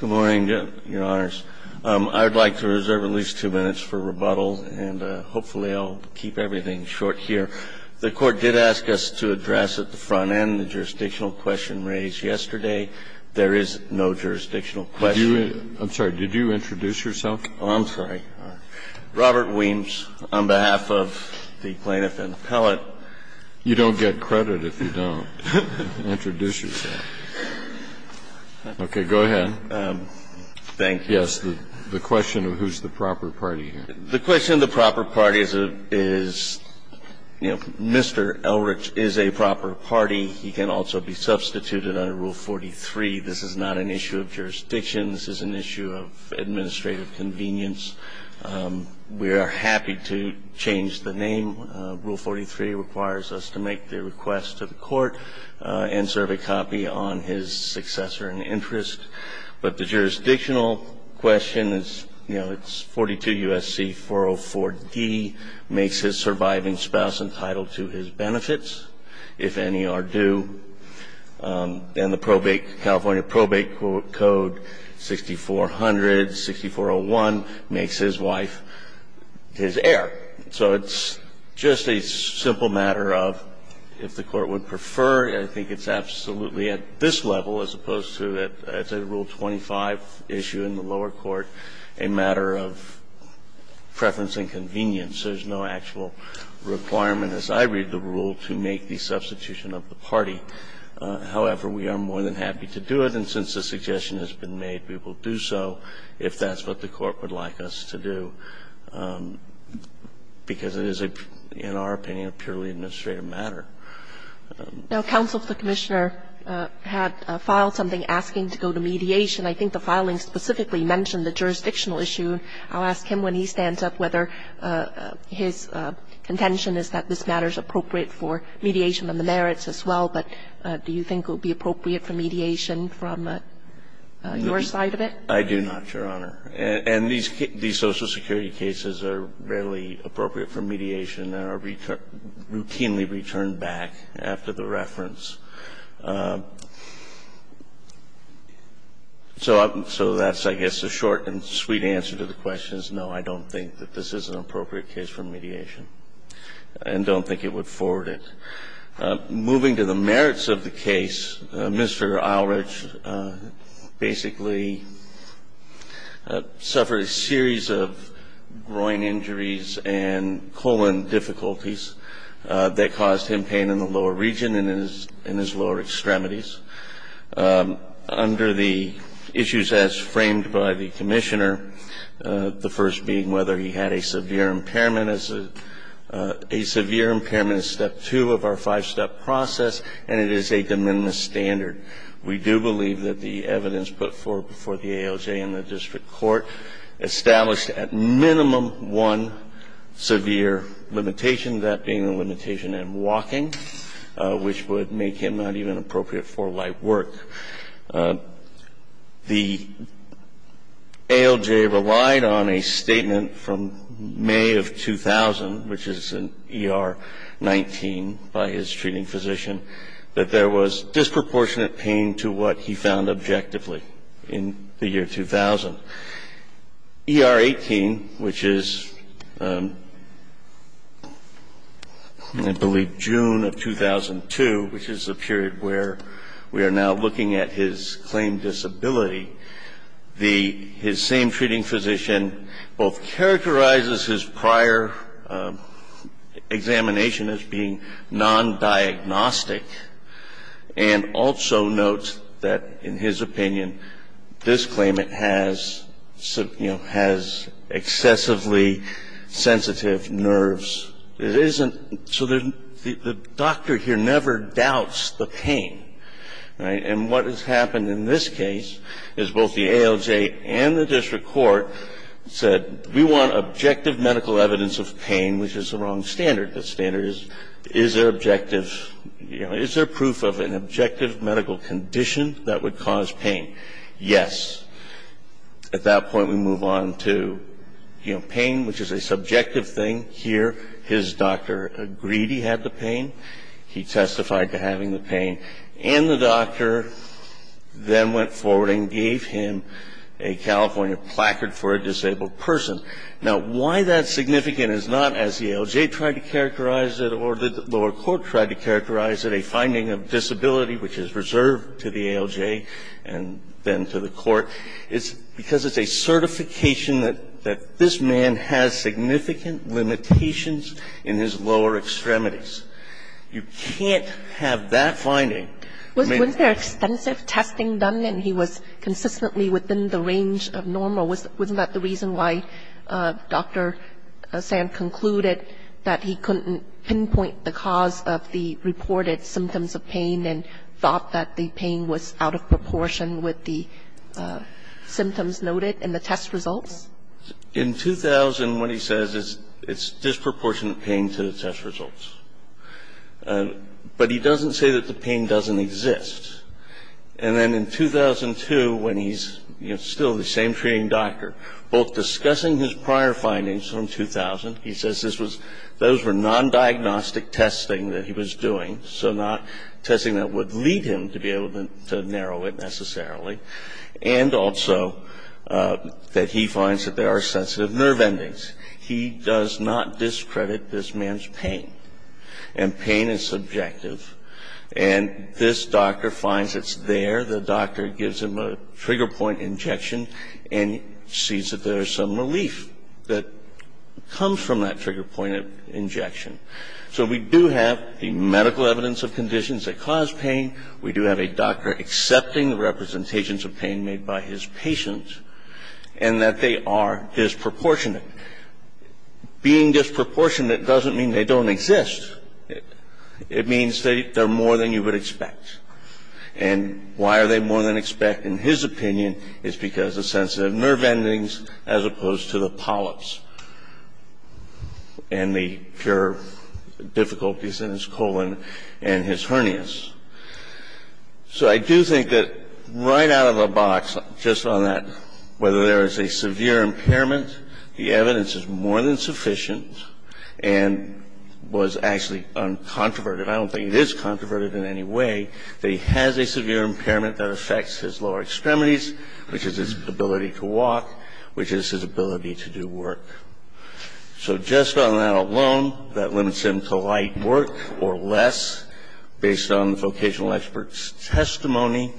Good morning, Your Honors. I would like to reserve at least two minutes for rebuttal, and hopefully I'll keep everything short here. The Court did ask us to address at the front end the jurisdictional question raised yesterday. There is no jurisdictional question. I'm sorry, did you introduce yourself? Oh, I'm sorry. Robert Weems, on behalf of the plaintiff and the appellate. You don't get credit if you don't introduce yourself. Okay, go ahead. Thank you. Yes, the question of who's the proper party here. The question of the proper party is, you know, Mr. Eilrich is a proper party. He can also be substituted under Rule 43. This is not an issue of jurisdiction. This is an issue of administrative convenience. We are happy to change the name. Rule 43 requires us to make the request to the court and serve a copy on his successor in interest. But the jurisdictional question is, you know, it's 42 U.S.C. 404D, makes his surviving spouse entitled to his benefits if any are due. And the California Probate Code 6400-6401 makes his wife his heir. So it's just a simple matter of if the court would prefer. I think it's absolutely at this level as opposed to, as a Rule 25 issue in the lower court, a matter of preference and convenience. There's no actual requirement, as I read the rule, to make the substitution of the party. However, we are more than happy to do it. And since the suggestion has been made, we will do so if that's what the court would like us to do, because it is, in our opinion, a purely administrative matter. Now, counsel for the Commissioner had filed something asking to go to mediation. I think the filing specifically mentioned the jurisdictional issue. I'll ask him, when he stands up, whether his contention is that this matter is appropriate for mediation on the merits as well. But do you think it would be appropriate for mediation from your side of it? I do not, Your Honor. And these Social Security cases are rarely appropriate for mediation. They are routinely returned back after the reference. So that's, I guess, the short and sweet answer to the question is, no, I don't think that this is an appropriate case for mediation and don't think it would forward it. Moving to the merits of the case, Mr. Eilrich basically suffered a series of groin injuries and colon difficulties that caused him pain in the lower region and in his lower extremities. Under the issues as framed by the Commissioner, the first being whether he had a severe impairment is step two of our five-step process, and it is a de minimis standard. We do believe that the evidence put forward before the ALJ and the district court established at minimum one severe limitation, that being the limitation in walking, which would make him not even appropriate for light work. The ALJ relied on a statement from May of 2000, which is in ER 19, by his treating physician, that there was disproportionate pain to what he found objectively in the year 2000. ER 18, which is, I believe, June of 2002, which is the period where we are now looking at his claim disability, the his same treating physician both characterizes his prior examination as being non-diagnostic and also notes that, in his opinion, this claimant has, you know, has excessively sensitive nerves. It isn't so that the doctor here never doubts the pain, right? And what has happened in this case is both the ALJ and the district court said, we want objective medical evidence of pain, which is the wrong standard. The standard is, is there objective, you know, is there proof of an objective medical condition that would cause pain? Yes. At that point, we move on to, you know, pain, which is a subjective thing. Here, his doctor agreed he had the pain. He testified to having the pain. And the doctor then went forward and gave him a California placard for a disabled person. Now, why that's significant is not as the ALJ tried to characterize it or the lower court tried to characterize it, a finding of disability which is reserved to the ALJ and then to the court. It's because it's a certification that this man has significant limitations in his lower extremities. You can't have that finding. I mean ---- Was there extensive testing done and he was consistently within the range of normal? Wasn't that the reason why Dr. Sand concluded that he couldn't pinpoint the cause of the reported symptoms of pain and thought that the pain was out of proportion with the symptoms noted in the test results? In 2000, what he says is it's disproportionate pain to the test results. But he doesn't say that the pain doesn't exist. And then in 2002, when he's still the same treating doctor, both discussing his prior findings from 2000, he says this was ñ those were non-diagnostic testing that he was doing, so not testing that would lead him to be able to narrow it necessarily, and also that he finds that there are sensitive nerve endings. He does not discredit this man's pain. And pain is subjective. And this doctor finds it's there. The doctor gives him a trigger point injection and sees that there is some relief that comes from that trigger point injection. So we do have the medical evidence of conditions that cause pain. We do have a doctor accepting the representations of pain made by his patient and that they are disproportionate. Being disproportionate doesn't mean they don't exist. It means they're more than you would expect. And why are they more than you would expect, in his opinion, is because of sensitive nerve endings as opposed to the polyps and the pure difficulties in his colon and his hernias. So I do think that right out of the box, just on that, whether there is a severe impairment, the evidence is more than sufficient and was actually uncontroverted. I don't think it is controverted in any way that he has a severe impairment that affects his lower extremities, which is his ability to walk, which is his ability to do work. So just on that alone, that limits him to light work or less based on the vocational expert's testimony.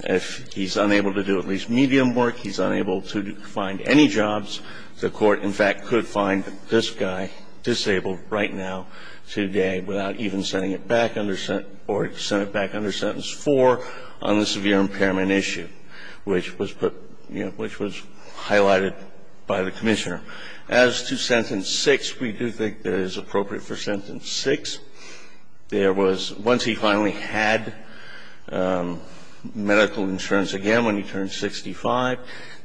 If he's unable to do at least medium work, he's unable to find any jobs, the Court, in fact, could find this guy disabled right now, today, without even sending it back under or to send it back under Sentence 4 on the severe impairment issue, which was put, which was highlighted by the Commissioner. As to Sentence 6, we do think that it is appropriate for Sentence 6. There was, once he finally had medical insurance again, when he turned 65,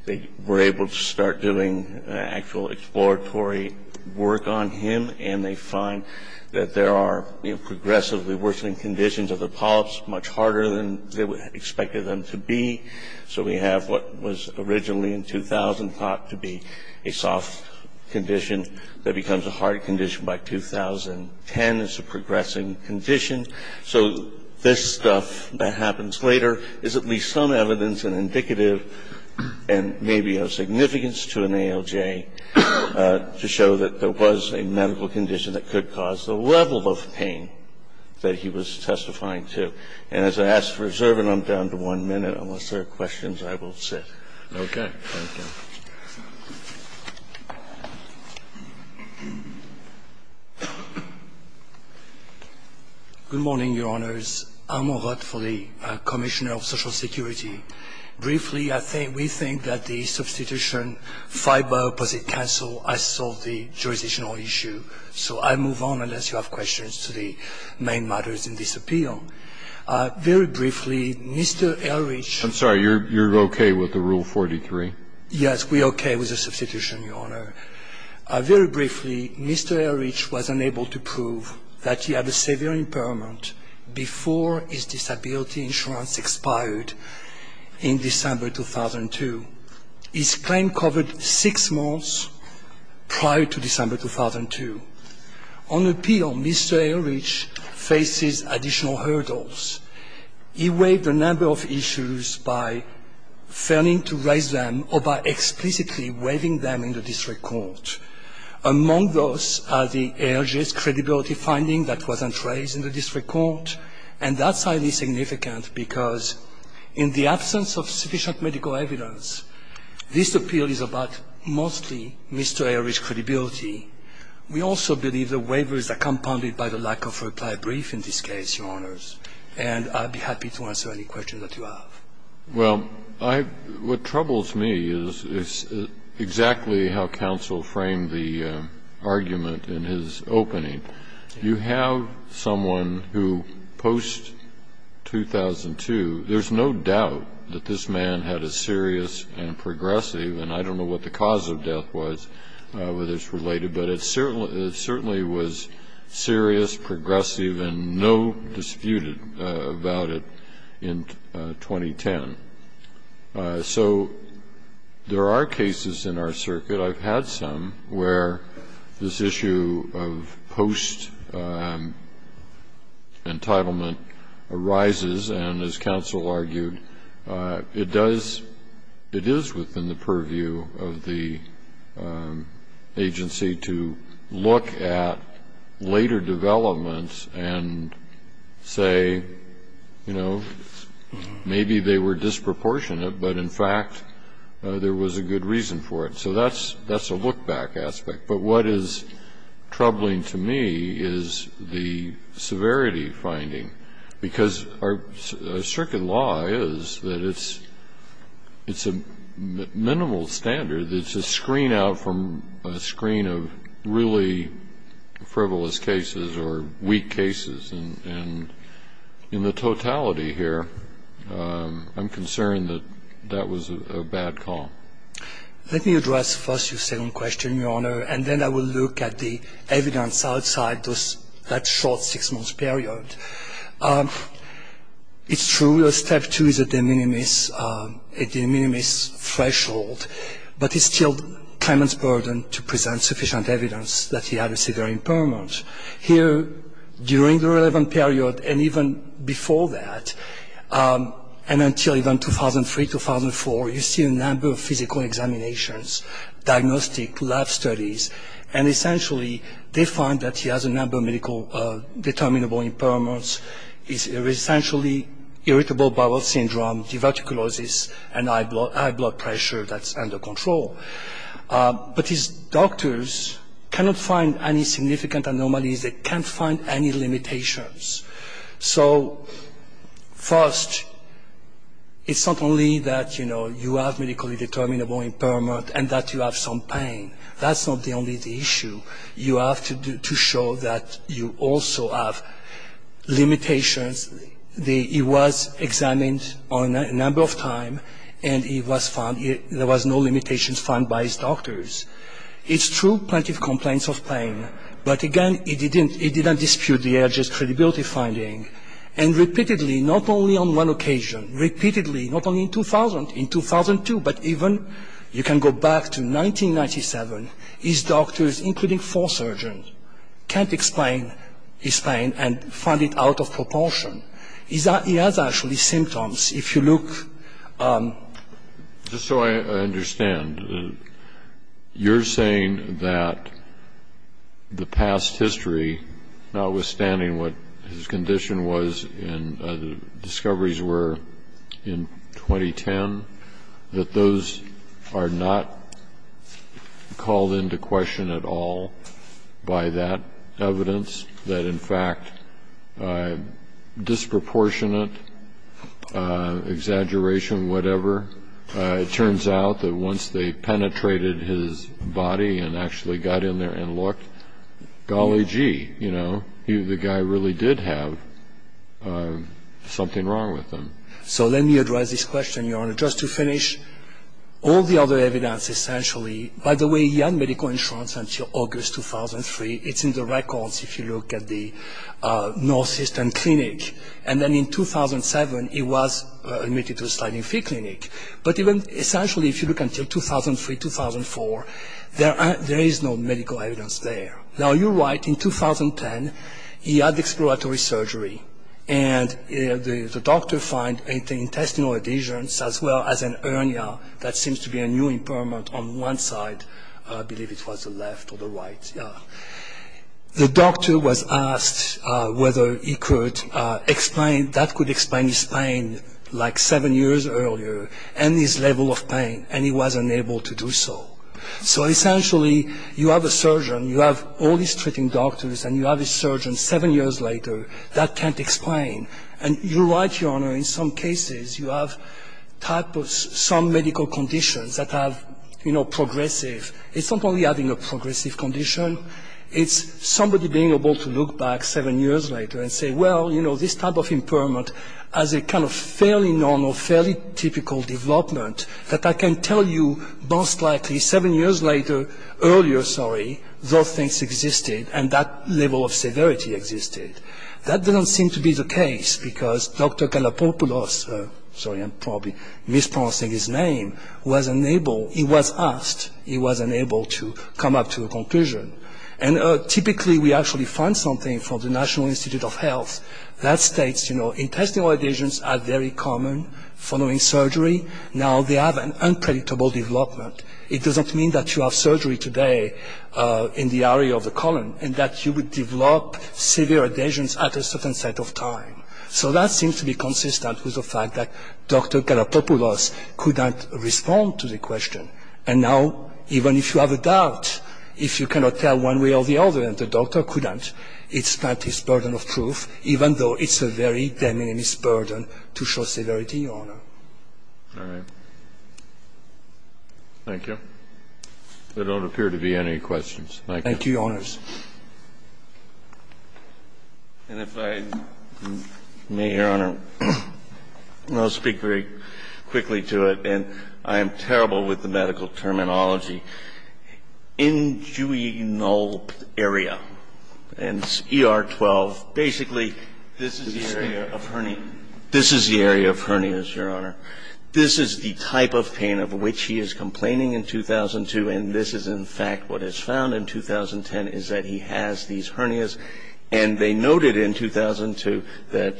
they were able to start doing actual exploratory work on him, and they find that there are progressively worsening conditions of the polyps, much harder than they expected them to be. So we have what was originally in 2000 thought to be a soft condition that becomes a hard condition by 2010. It's a progressing condition. So this stuff that happens later is at least some evidence and indicative and maybe of significance to an ALJ to show that there was a medical condition that could cause the level of pain that he was testifying to. And as I ask for reserve, and I'm down to one minute, unless there are questions, I will sit. Okay. Thank you. Good morning, Your Honors. I'm Amarat Foley, Commissioner of Social Security. Briefly, I think, we think that the substitution filed by opposite counsel has solved the jurisdictional issue. So I move on unless you have questions to the main matters in this appeal. Very briefly, Mr. Ehrlich. I'm sorry, you're okay with the Rule 43? Yes, we're okay with the substitution, Your Honor. Very briefly, Mr. Ehrlich was unable to prove that he had a severe impairment before his disability insurance expired in December 2002. His claim covered six months prior to December 2002. On appeal, Mr. Ehrlich faces additional hurdles. He waived a number of issues by failing to raise them or by explicitly waiving them in the district court. Among those are the Ehrlich's credibility finding that wasn't raised in the district court, and that's highly significant because in the absence of sufficient medical evidence, this appeal is about mostly Mr. Ehrlich's credibility. We also believe the waivers are compounded by the lack of reply brief in this case, Your Honors. And I'd be happy to answer any questions that you have. Well, what troubles me is exactly how counsel framed the argument in his opening. You have someone who post-2002, there's no doubt that this man had a serious and progressive, and I don't know what the cause of death was, whether it's related, but it certainly was serious, progressive, and no disputed about it in 2010. So there are cases in our circuit, I've had some, where this issue of post-entitlement arises, and as counsel argued, it does, it is within the purview of the agency to look at later developments and say, you know, maybe they were disproportionate, but in fact there was a good reason for it. So that's a look-back aspect. But what is troubling to me is the severity finding. Because our circuit law is that it's a minimal standard. It's a screen out from a screen of really frivolous cases or weak cases. And in the totality here, I'm concerned that that was a bad call. Let me address first your second question, Your Honor, and then I will look at the evidence outside that short six-month period. It's true that step two is a de minimis threshold, but it's still Clement's burden to present sufficient evidence that he had a severe impairment. Here, during the relevant period and even before that, and until even 2003, 2004, you see a number of physical examinations, diagnostic lab studies, and essentially they find that he has a number of medical determinable impairments. He has essentially irritable bowel syndrome, diverticulosis, and high blood pressure that's under control. But his doctors cannot find any significant anomalies. They can't find any limitations. So first, it's not only that, you know, you have medically determinable impairment and that you have some pain. That's not only the issue. You have to show that you also have limitations. He was examined a number of times, and he was found, there was no limitations found by his doctors. It's true, plenty of complaints of pain. But again, he didn't dispute the AIG's credibility finding. And repeatedly, not only on one occasion, repeatedly, not only in 2000, in 2002, but even you can go back to 1997, his doctors, including four surgeons, can't explain his pain and find it out of proportion. He has actually symptoms. If you look at the... the past history, notwithstanding what his condition was and the discoveries were in 2010, that those are not called into question at all by that evidence. That, in fact, disproportionate exaggeration, whatever, it turns out that once they penetrated his body and actually got in there and looked, golly gee, you know, the guy really did have something wrong with him. So let me address this question, Your Honor, just to finish. All the other evidence essentially... By the way, he had medical insurance until August 2003. It's in the records if you look at the Northeastern Clinic. And then in 2007, he was admitted to a sliding fee clinic. But even essentially, if you look until 2003, 2004, there is no medical evidence there. Now, you're right, in 2010, he had exploratory surgery. And the doctor found intestinal adhesions as well as an urnia that seems to be a new impairment on one side. I believe it was the left or the right, yeah. The doctor was asked whether he could explain, that could explain his pain like seven years earlier and his level of pain, and he was unable to do so. So essentially, you have a surgeon, you have all these treating doctors, and you have a surgeon seven years later that can't explain. And you're right, Your Honor, in some cases, you have some medical conditions that are, you know, progressive. It's not only having a progressive condition. It's somebody being able to look back seven years later and say, well, you know, this type of impairment has a kind of fairly normal, fairly typical development that I can tell you most likely seven years later, earlier, sorry, those things existed and that level of severity existed. That didn't seem to be the case because Dr. Galapagos, sorry, I'm probably mispronouncing his name, was unable, he was asked, he was unable to come up to a conclusion. And typically, we actually find something from the National Institute of Health that states, you know, intestinal adhesions are very common following surgery. Now, they have an unpredictable development. It doesn't mean that you have surgery today in the area of the colon and that you would develop severe adhesions at a certain set of time. So that seems to be consistent with the fact that Dr. Galapagos couldn't respond to the question. And now, even if you have a doubt, if you cannot tell one way or the other and the doctor couldn't, it's not his burden of proof, even though it's a very demining burden to show severity, Your Honor. Kennedy. Thank you. Thank you. Thank you, Your Honors. And if I may, Your Honor, I'll speak very quickly to it. And I am terrible with the medical terminology. Injuinal area. And ER 12, basically, this is the area of hernias. This is the area of hernias, Your Honor. This is the type of pain of which he is complaining in 2002, and this is, in fact, what is found in 2010, is that he has these hernias. And they noted in 2002 that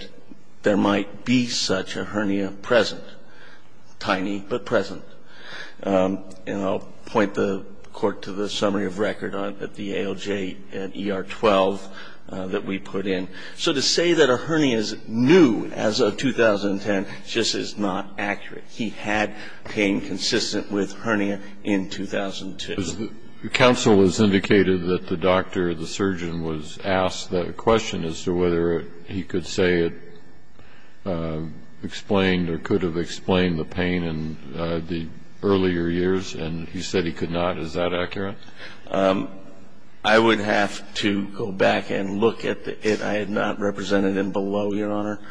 there might be such a hernia present, tiny but present. And I'll point the Court to the summary of record at the ALJ at ER 12 that we put in. So to say that a hernia is new as of 2010 just is not accurate. He had pain consistent with hernia in 2002. Counsel has indicated that the doctor, the surgeon, was asked that question as to whether he could say it explained or could have explained the pain in the earlier years. And he said he could not. Is that accurate? I would have to go back and look at it. I had not represented him below, Your Honor.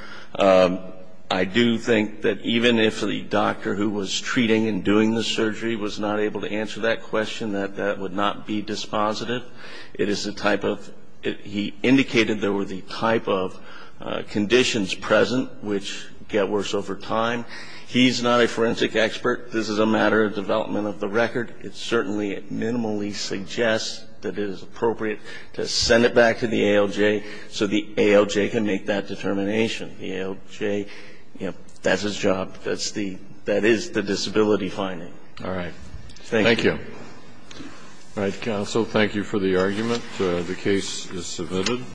I do think that even if the doctor who was treating and doing the surgery was not able to answer that question, that would not be dispositive. He indicated there were the type of conditions present which get worse over time. He's not a forensic expert. This is a matter of development of the record. It certainly minimally suggests that it is appropriate to send it back to the ALJ so the ALJ can make that determination. The ALJ, that's its job. That is the disability finding. All right. Thank you. Thank you. All right, counsel, thank you for the argument. The case is submitted.